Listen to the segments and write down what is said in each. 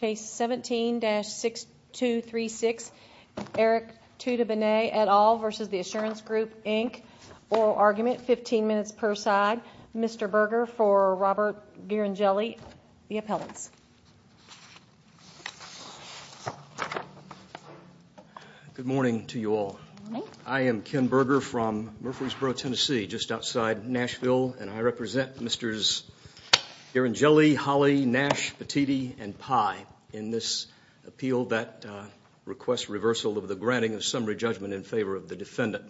Case 17-6236, Eric Tuttobene et al. v. The Assurance Group Inc. Oral Argument, 15 minutes per side. Mr. Berger for Robert Ghirangelli, the appellants. Good morning to you all. I am Ken Berger from Murfreesboro, Tennessee, just outside Nashville, and I represent Mr. Ghirangelli, Holley, Nash, Petitti, and Pye in this appeal that requests reversal of the granting of summary judgment in favor of the defendant.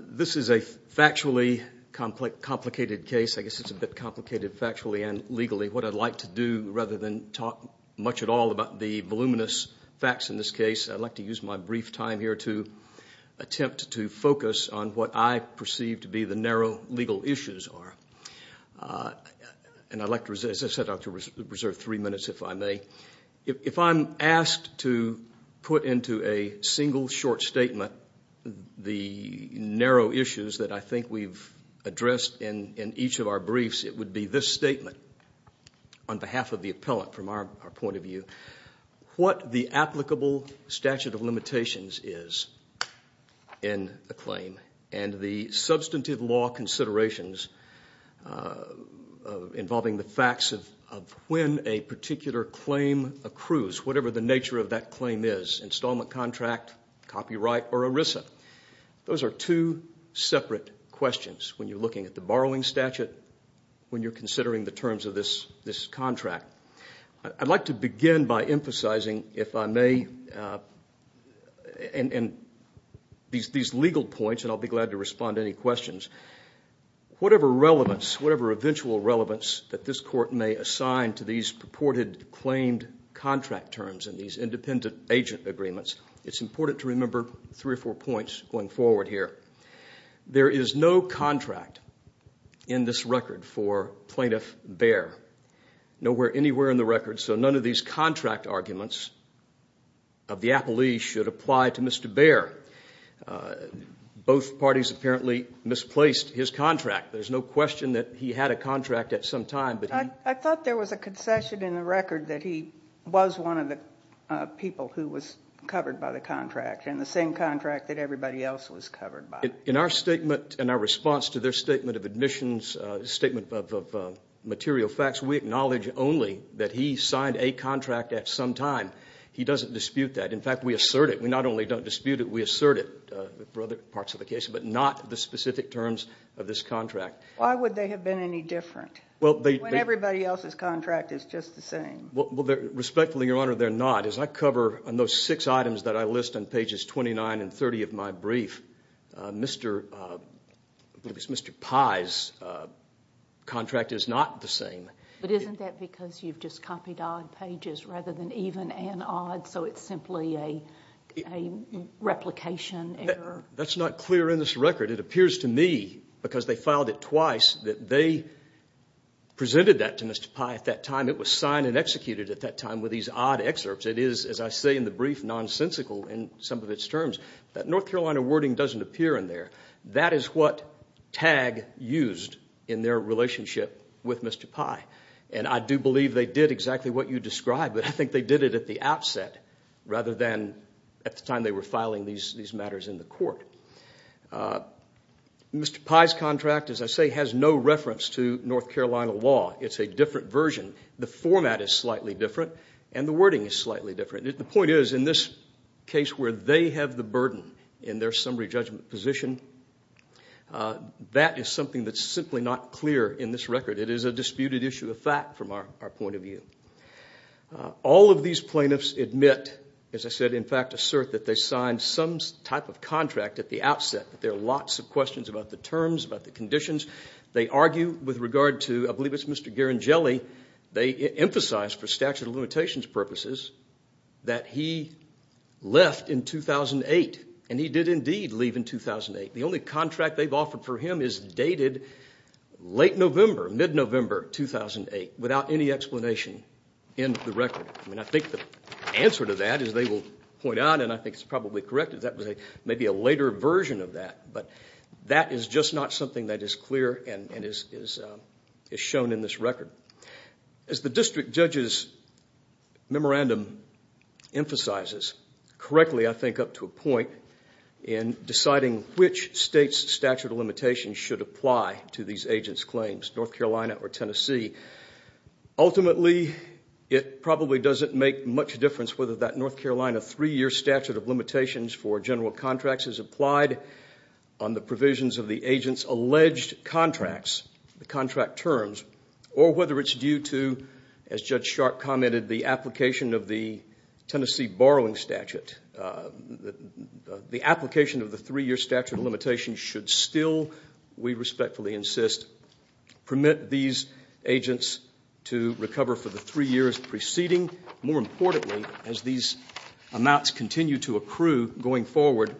This is a factually complicated case. I guess it's a bit complicated factually and legally. What I'd like to do, rather than talk much at all about the voluminous facts in this and the narrow legal issues are, and I'd like to reserve three minutes if I may. If I'm asked to put into a single short statement the narrow issues that I think we've addressed in each of our briefs, it would be this statement on behalf of the appellant from our point of view, what the applicable statute of limitations is in a claim and the substantive law considerations involving the facts of when a particular claim accrues, whatever the nature of that claim is, installment contract, copyright, or ERISA. Those are two separate questions when you're looking at the borrowing statute, when you're considering the terms of this contract. I'd like to begin by emphasizing, if I may, these legal points, and I'll be glad to respond to any questions. Whatever relevance, whatever eventual relevance that this court may assign to these purported claimed contract terms and these independent agent agreements, it's important to remember three or four points going forward here. There is no contract in this record for Plaintiff Behr. Nowhere anywhere in the record, so none of these contract arguments of the appellee should apply to Mr. Behr. Both parties apparently misplaced his contract. There's no question that he had a contract at some time, but he... I thought there was a concession in the record that he was one of the people who was covered by the contract, and the same contract that everybody else was covered by. In our statement and our response to their statement of admissions, statement of material facts, we acknowledge only that he signed a contract at some time. He doesn't dispute that. In fact, we assert it. We not only don't dispute it, we assert it for other parts of the case, but not the specific terms of this contract. Why would they have been any different when everybody else's contract is just the same? Well, respectfully, Your Honor, they're not. As I cover on those six items that I list on pages 29 and 30 of my brief, Mr. Pye's contract is not the same. But isn't that because you've just copied odd pages rather than even and odd, so it's simply a replication error? That's not clear in this record. It appears to me, because they filed it twice, that they presented that to Mr. Pye at that time. It was signed and executed at that time with these odd excerpts. It is, as I say in the brief, nonsensical in some of its terms. That North Carolina wording doesn't appear in there. That is what TAG used in their relationship with Mr. Pye. I do believe they did exactly what you described, but I think they did it at the outset rather than at the time they were filing these matters in the court. Mr. Pye's contract, as I say, has no reference to North Carolina law. It's a different version. The format is slightly different and the wording is slightly different. The point is, in this case where they have the burden in their summary judgment position, that is something that's simply not clear in this record. It is a disputed issue of fact from our point of view. All of these plaintiffs admit, as I said, in fact assert that they signed some type of contract at the outset. There are lots of questions about the terms, about the conditions. They argue with regard to, I believe it's Mr. Garangelli, they emphasize for statute of limitations purposes that he left in 2008 and he did indeed leave in 2008. The only contract they've offered for him is dated late November, mid-November 2008, without any explanation in the record. I think the answer to that, as they will point out, and I think it's probably correct, is that was maybe a later version of that. That is just not something that is clear and is shown in this record. As the district judge's memorandum emphasizes correctly, I think up to a point, in deciding which state's statute of limitations should apply to these agents' claims, North Carolina or Tennessee, ultimately it probably doesn't make much difference whether that North Carolina three-year statute of limitations for general contracts is applied on the provisions of the agent's alleged contracts, the contract terms, or whether it's due to, as Judge Sharp commented, the application of the Tennessee borrowing statute. The application of the three-year statute of limitations should still, we respectfully insist, permit these agents to recover for the three years preceding. More importantly, as these amounts continue to accrue going forward,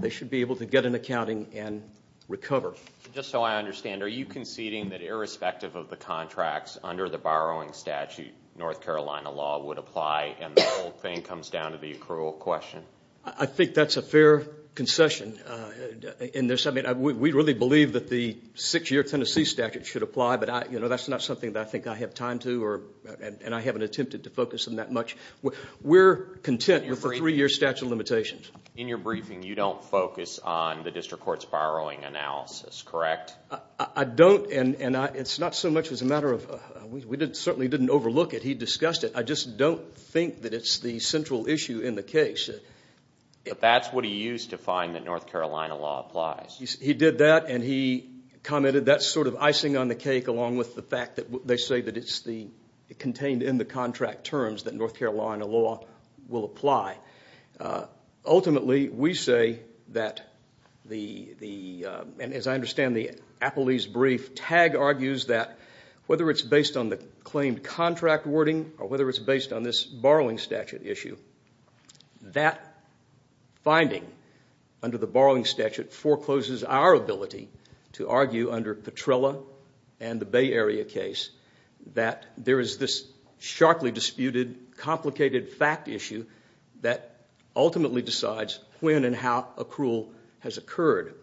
they should be able to get an accounting and recover. Just so I understand, are you conceding that irrespective of the contracts under the borrowing statute, North Carolina law would apply, and the whole thing comes down to the accrual question? I think that's a fair concession. We really believe that the six-year Tennessee statute should apply, but that's not something that I think I have time to, and I haven't attempted to focus on that much. We're content with the three-year statute of limitations. In your briefing, you don't focus on the district court's borrowing analysis, correct? I don't, and it's not so much as a matter of, we certainly didn't overlook it. He discussed it. I just don't think that it's the central issue in the case. That's what he used to find that North Carolina law applies. He did that, and he commented that's sort of icing on the cake, along with the fact that they say that it's contained in the contract terms that North Carolina law will apply. Ultimately, we say that the, and as I understand the Apolese brief, Tagg argues that whether it's based on the claimed contract wording or whether it's based on this borrowing statute issue, that finding under the borrowing statute forecloses our ability to argue under Petrella and the Bay Area case that there is this sharply disputed, complicated fact issue that ultimately decides when and how accrual has occurred.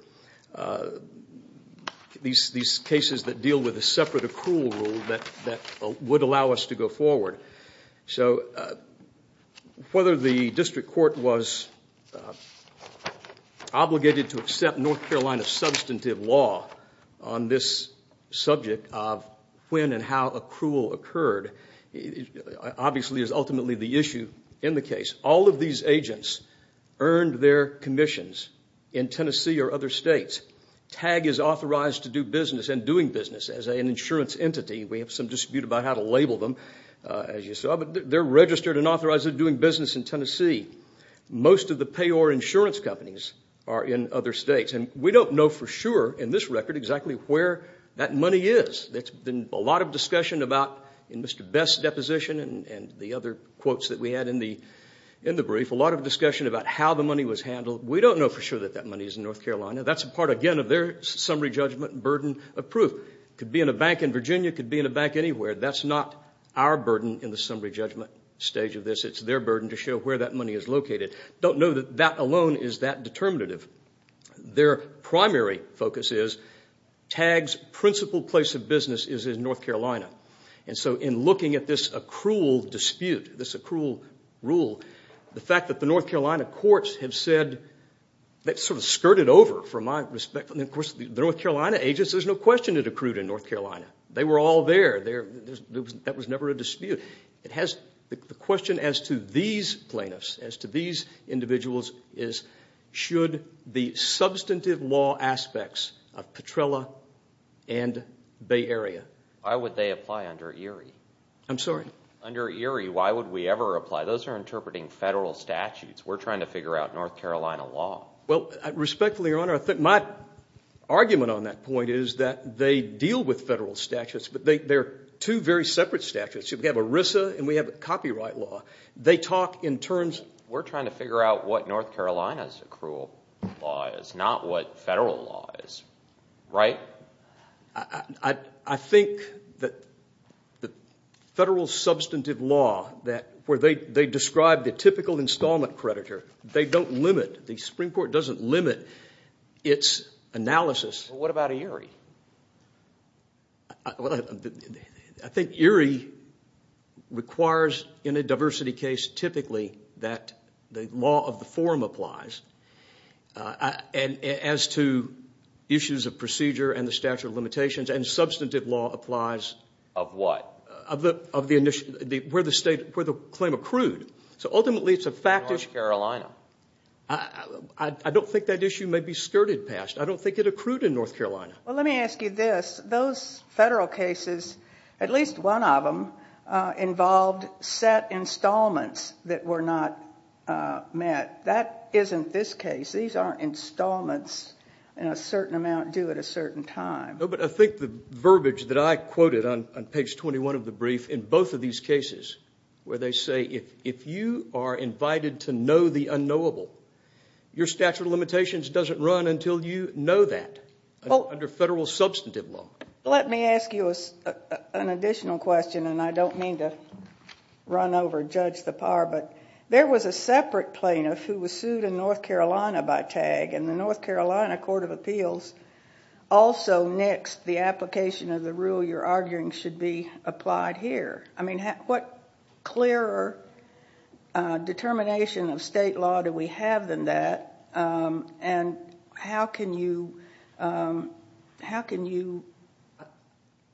These cases that deal with a separate accrual rule that would allow us to go forward. Whether the district court was obligated to accept North Carolina substantive law on this subject of when and how accrual occurred, obviously is ultimately the issue in the case. All of these agents earned their commissions in Tennessee or other states. Tagg is authorized to do business and doing business as an insurance entity. We have some dispute about how to label them, as you saw, but they're registered and authorized to doing business in Tennessee. Most of the payor insurance companies are in other states. We don't know for sure in this record exactly where that money is. There's been a lot of discussion about in Mr. Best's deposition and the other quotes that we had in the brief, a lot of discussion about how the money was handled. We don't know for sure that that money is in North Carolina. That's a part, again, of their summary judgment burden of proof. It could be in a bank in Virginia. It could be in a bank anywhere. That's not our burden in the summary judgment stage of this. It's their burden to show where that money is located. Don't know that that determinative. Their primary focus is Tagg's principal place of business is in North Carolina. In looking at this accrual dispute, this accrual rule, the fact that the North Carolina courts have said, that sort of skirted over from my respect. Of course, the North Carolina agents, there's no question it accrued in North Carolina. They were all there. That was never a dispute. The question as to these plaintiffs, as to these individuals, is should the substantive law aspects of Petrella and Bay Area? Why would they apply under ERIE? I'm sorry? Under ERIE, why would we ever apply? Those are interpreting federal statutes. We're trying to figure out North Carolina law. Respectfully, Your Honor, I think my argument on that point is that they deal with federal statute. We have ERISA and we have copyright law. They talk in terms... We're trying to figure out what North Carolina's accrual law is, not what federal law is, right? I think that the federal substantive law where they describe the typical installment creditor, they don't limit, the Supreme Court doesn't limit its analysis. What about ERIE? I think ERIE requires, in a diversity case, typically, that the law of the forum applies as to issues of procedure and the statute of limitations. Substantive law applies... Of what? Where the claim accrued. Ultimately, it's a fact issue. North Carolina. I don't think that issue may be skirted past. I don't think it accrued in North Carolina. Let me ask you this. Those federal cases, at least one of them, involved set installments that were not met. That isn't this case. These aren't installments in a certain amount due at a certain time. I think the verbiage that I quoted on page 21 of the brief, in both of these cases, where they say, if you are invited to know the unknowable, your statute of limitations doesn't run until you know that, under federal substantive law. Let me ask you an additional question. I don't mean to run over Judge Tappar, but there was a separate plaintiff who was sued in North Carolina by TAG, and the North Carolina Court of Appeals also nixed the application of the rule you're arguing should be applied here. What clearer determination of state law do we have than that? How can you say, if you are invited to know the unknowable, how can you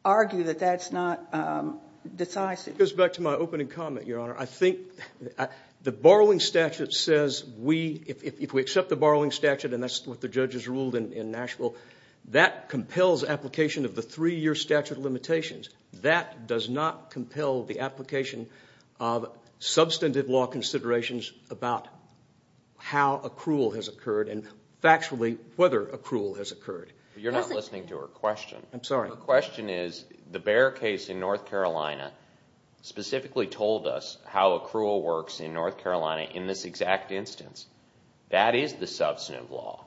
argue that that's not decisive? It goes back to my opening comment, Your Honor. I think the borrowing statute says, if we accept the borrowing statute, and that's what the judges ruled in Nashville, that compels application of the three-year statute of limitations. That does not compel the application of substantive law considerations about how accrual has occurred and, factually, whether accrual has occurred. You're not listening to her question. I'm sorry. Her question is, the Bear case in North Carolina specifically told us how accrual works in North Carolina in this exact instance. That is the substantive law.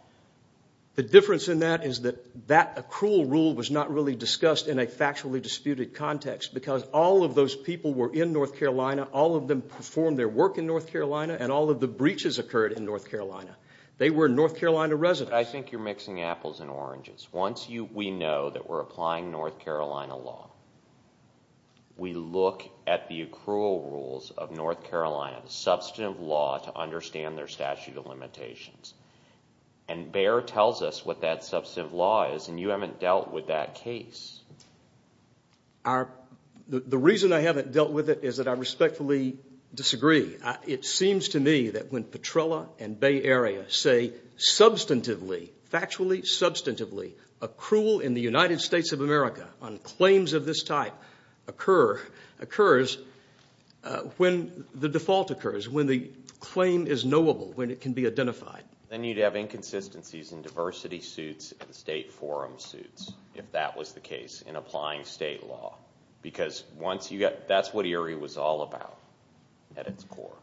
The difference in that is that that accrual rule was not really discussed in a factually disputed context, because all of those people were in North Carolina. All of them performed their work in North Carolina, and all of the breaches occurred in North Carolina. They were North Carolina residents. I think you're mixing apples and oranges. Once we know that we're applying North Carolina law, we look at the accrual rules of North Carolina, the substantive law to understand their statute of limitations, and Bear tells us what that substantive law is, and you haven't dealt with that case. The reason I haven't dealt with it is that I respectfully disagree. It seems to me that when Petrella and Bay Area say, factually, substantively, accrual in the United States of America on claims of this type occurs when the default occurs, when the claim is knowable, when it can be identified. Then you'd have inconsistencies in diversity suits and state forum suits, if that was the case, in applying state law, because that's what Erie was all about at its core.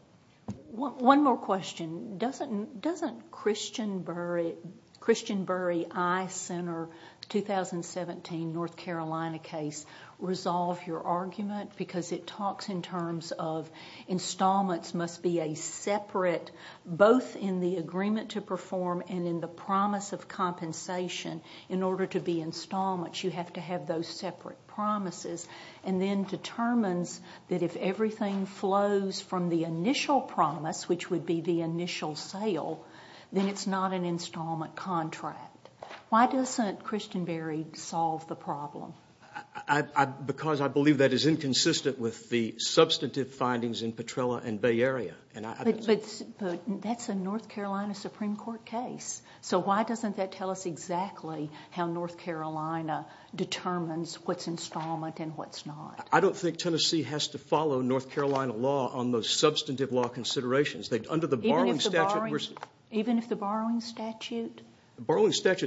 One more question. Doesn't Christian Burry I Center 2017 North Carolina case resolve your argument, because it talks in terms of installments must be a separate, both in the agreement to perform and in the promise of compensation, in order to be installments. You have to have those separate promises, and then determines that if everything flows from the initial promise, which would be the initial sale, then it's not an installment contract. Why doesn't Christian Burry solve the problem? Because I believe that is inconsistent with the substantive findings in Petrella and Bay Area. But that's a North Carolina Supreme Court case, so why doesn't that tell us exactly how North Carolina determines what's installment and what's not? I don't think Tennessee has to follow North Carolina law on those substantive law considerations. Even if the borrowing statute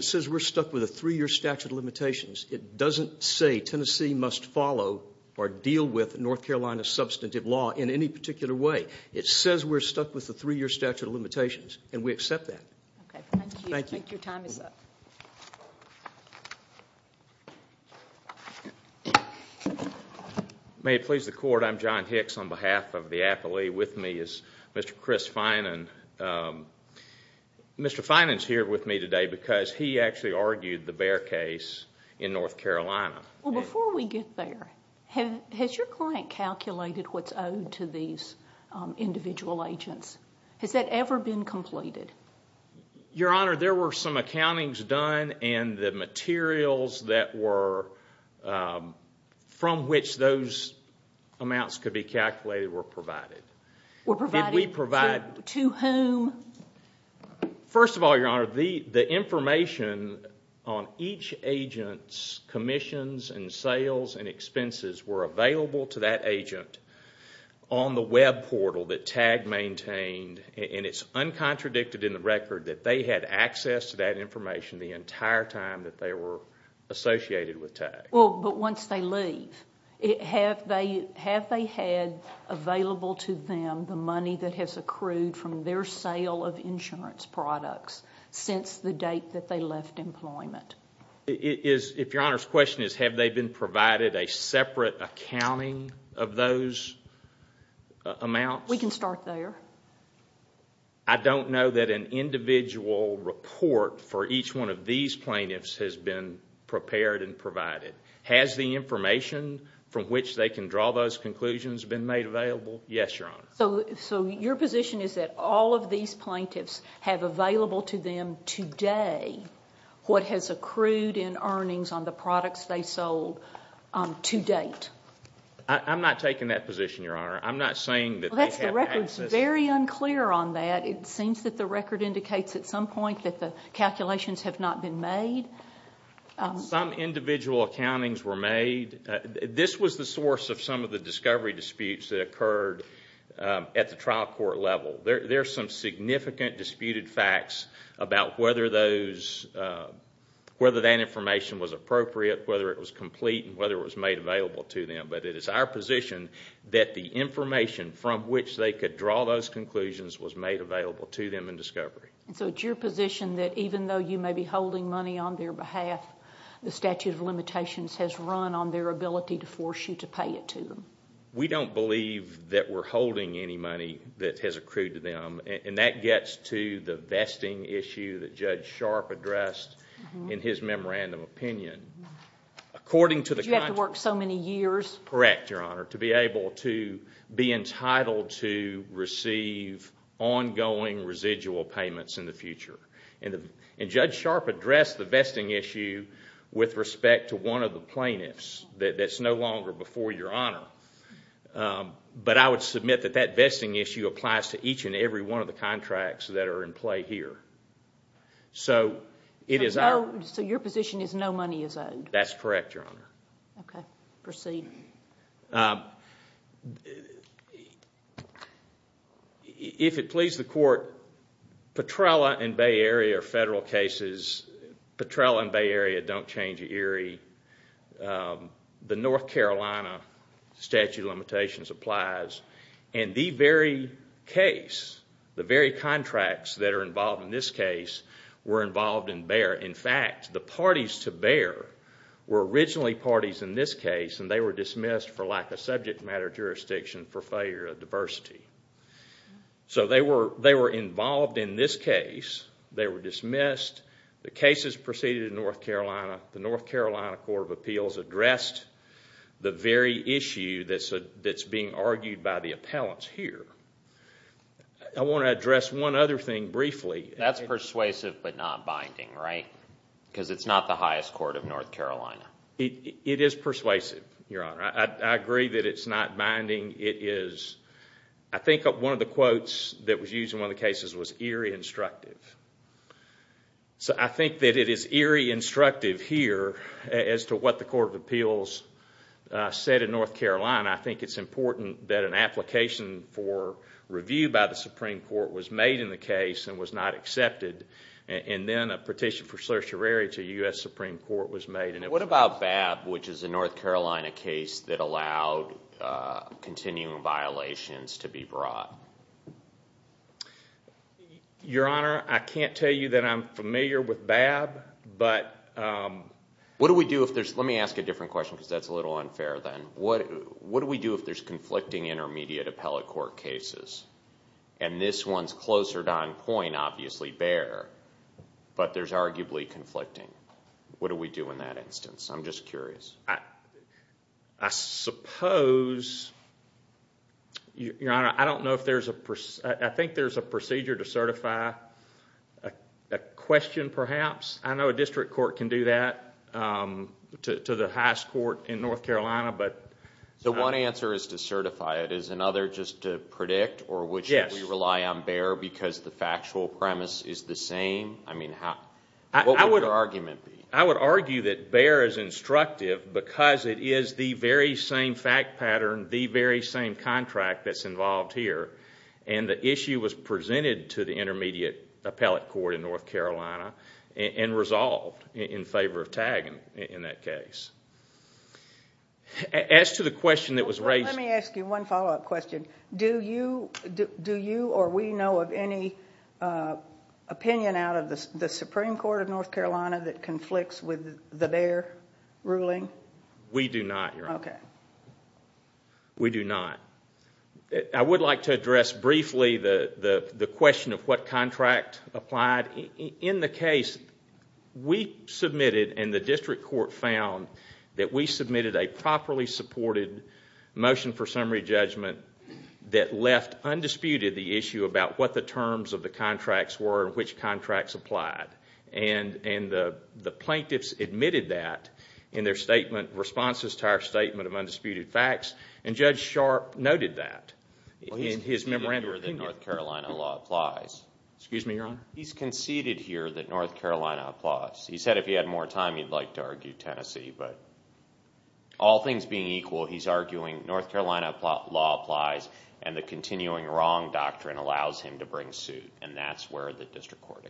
says we're stuck with a three-year statute of limitations, it doesn't say Tennessee must follow or deal with North Carolina's substantive law in any particular way. It says we're stuck with the three-year statute of limitations, and we accept that. Okay. Thank you. Thank you. Your time is up. May it please the Court, I'm John Hicks on behalf of the Appley. With me is Mr. Chris Finan. Mr. Finan's here with me today because he actually argued the Bear case in North Carolina. Well, before we get there, has your client calculated what's owed to these individual agents? Has that ever been completed? Your Honor, there were some accountings done, and the materials from which those amounts could be calculated were provided. Were provided to whom? First of all, Your Honor, the information on each agent's commissions and sales and expenses were available to that agent on the web portal that TAG maintained, and it's uncontradicted in the record that they had access to that information the entire time that they were associated with TAG. Well, but once they leave, have they had available to them the money that has accrued from their sale of insurance products since the date that they left employment? If Your Honor's question is, have they been provided a separate accounting of those amounts? We can start there. I don't know that an individual report for each one of these plaintiffs has been prepared and provided. Has the information from which they can draw those conclusions been made available? Yes, Your Honor. So, your position is that all of these plaintiffs have available to them today what has accrued in earnings on the products they sold to date? I'm not taking that position, Your Honor. I'm not saying that they have access. It's very unclear on that. It seems that the record indicates at some point that the calculations have not been made. Some individual accountings were made. This was the source of some of the discovery disputes that occurred at the trial court level. There are some significant disputed facts about whether that information was appropriate, whether it was complete, and whether it was made available to them. It is our position that the information from which they could draw those conclusions was made available to them in discovery. So, it's your position that even though you may be holding money on their behalf, the statute of limitations has run on their ability to force you to pay it to them? We don't believe that we're holding any money that has accrued to them. That gets to the vesting issue that Judge Sharp addressed in his memorandum opinion. Did you have to work so many years? Correct, Your Honor, to be able to be entitled to receive ongoing residual payments in the future. Judge Sharp addressed the vesting issue with respect to one of the plaintiffs. That's no longer before Your Honor. But I would submit that that vesting issue applies to each and every one of the contracts that are in play here. So, your position is no money is owed? That's correct, Your Honor. Okay. Proceed. If it pleases the Court, Petrella and Bay Area are federal cases. Petrella and Bay Area don't change ERIE. The North Carolina statute of limitations applies. In the very case, the very contracts that are involved in this case were involved in Bay Area. In fact, the parties to Bay Area were originally parties in this case, and they were dismissed for lack of subject matter jurisdiction for failure of diversity. So, they were involved in this case. They were dismissed. The cases proceeded in North Carolina. The North Carolina Court of Appeals addressed the very issue that's being argued by the appellants here. I want to address one other thing briefly. That's persuasive but not binding, right? Because it's not the highest court of North Carolina. It is persuasive, Your Honor. I agree that it's not binding. I think one of the quotes that was used in one of the cases was ERIE instructive. So, I think that it is ERIE instructive here as to what the Court of Appeals said in North Carolina. I think it's important that an application for review by the Supreme Court was made in the case and was not accepted, and then a petition for certiorari to the U.S. Supreme Court was made. What about BAB, which is a North Carolina case that allowed continuing violations to be brought? Your Honor, I can't tell you that I'm familiar with BAB, but— What do we do if there's—let me ask a different question because that's a little unfair then. What do we do if there's conflicting intermediate appellate court cases? And this one's closer to on point, obviously, BEHR, but there's arguably conflicting. What do we do in that instance? I'm just curious. I suppose—Your Honor, I don't know if there's a—I think there's a procedure to certify a question, perhaps. I know a district court can do that to the highest court in North Carolina, but— So, one answer is to certify it. Is another just to predict or would you rely on BEHR because the factual premise is the same? I mean, what would your argument be? I would argue that BEHR is instructive because it is the very same fact pattern, the very same contract that's involved here, and the issue was presented to the intermediate appellate court in North Carolina and resolved in favor of tagging in that case. As to the question that was raised— Let me ask you one follow-up question. Do you or we know of any opinion out of the Supreme Court of North Carolina that conflicts with the BEHR ruling? We do not, Your Honor. Okay. We do not. I would like to address briefly the question of what contract applied. In the case we submitted and the district court found that we submitted a properly supported motion for summary judgment that left undisputed the issue about what the terms of the contracts were and which contracts applied. And the plaintiffs admitted that in their statement, responses to our statement of undisputed facts, and Judge Sharp noted that in his memorandum. He's conceded here that North Carolina law applies. Excuse me, Your Honor? He's conceded here that North Carolina applies. He said if he had more time, he'd like to argue Tennessee. But all things being equal, he's arguing North Carolina law applies and the continuing wrong doctrine allows him to bring suit, and that's where the district court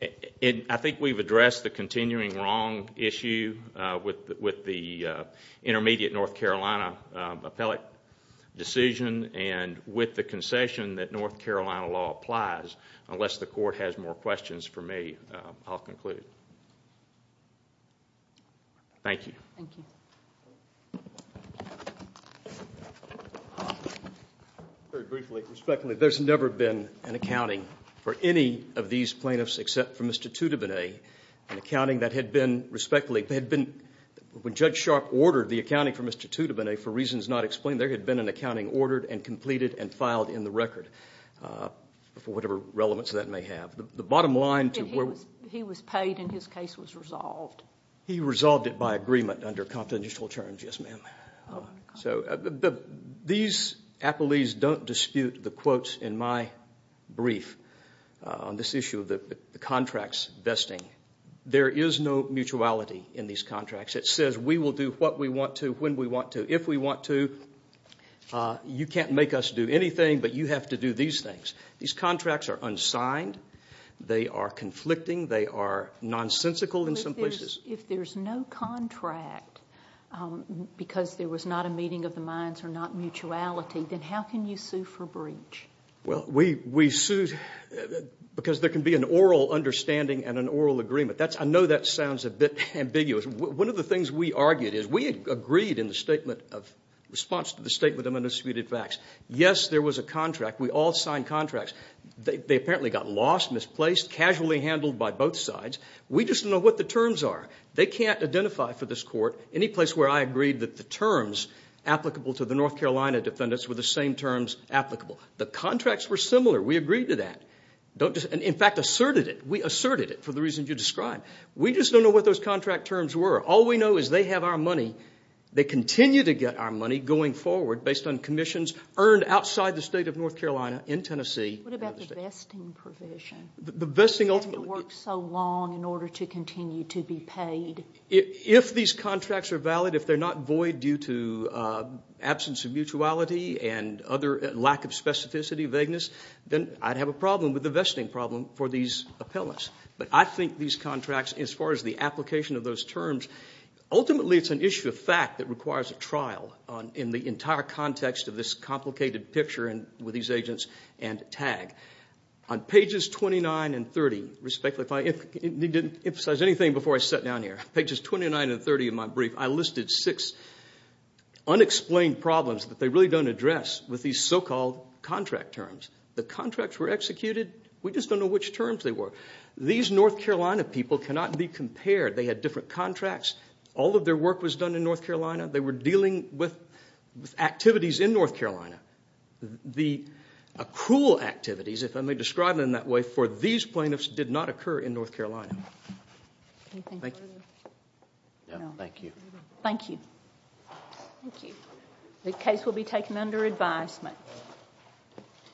is. I think we've addressed the continuing wrong issue with the intermediate North Carolina appellate decision and with the concession that North Carolina law applies. Unless the court has more questions for me, I'll conclude. Thank you. Thank you. Very briefly, respectfully, there's never been an accounting for any of these plaintiffs except for Mr. Tutabene, an accounting that had been respectfully, when Judge Sharp ordered the accounting for Mr. Tutabene, for reasons not explained, there had been an accounting ordered and completed and filed in the record, for whatever relevance that may have. The bottom line to where we... He was paid and his case was resolved. He resolved it by agreement under confidential terms, yes, ma'am. These appellees don't dispute the quotes in my brief on this issue of the contracts vesting. There is no mutuality in these contracts. It says we will do what we want to, when we want to, if we want to. You can't make us do anything, but you have to do these things. These contracts are unsigned. They are conflicting. They are nonsensical in some places. If there's no contract because there was not a meeting of the minds or not mutuality, then how can you sue for breach? Well, we sued because there can be an oral understanding and an oral agreement. I know that sounds a bit ambiguous. One of the things we argued is we agreed in the statement of response to the statement of undisputed facts. Yes, there was a contract. We all signed contracts. They apparently got lost, misplaced, casually handled by both sides. We just don't know what the terms are. They can't identify for this court any place where I agreed that the terms applicable to the North Carolina defendants were the same terms applicable. The contracts were similar. We agreed to that. In fact, asserted it. We asserted it for the reasons you described. We just don't know what those contract terms were. All we know is they have our money. They continue to get our money going forward based on commissions earned outside the state of North Carolina in Tennessee. What about the vesting provision? The vesting ultimately gets paid. You have to work so long in order to continue to be paid. If these contracts are valid, if they're not void due to absence of mutuality and lack of specificity, vagueness, then I'd have a problem with the vesting problem for these appellants. But I think these contracts, as far as the application of those terms, ultimately it's an issue of fact that requires a trial in the entire context of this complicated picture with these agents and TAG. On pages 29 and 30, respectfully, if I didn't emphasize anything before I sat down here, pages 29 and 30 of my brief, I listed six unexplained problems that they really don't address with these so-called contract terms. The contracts were executed. We just don't know which terms they were. These North Carolina people cannot be compared. They had different contracts. All of their work was done in North Carolina. They were dealing with activities in North Carolina. The accrual activities, if I may describe them that way, for these plaintiffs did not occur in North Carolina. Anything further? No, thank you. Thank you. The case will be taken under advisement.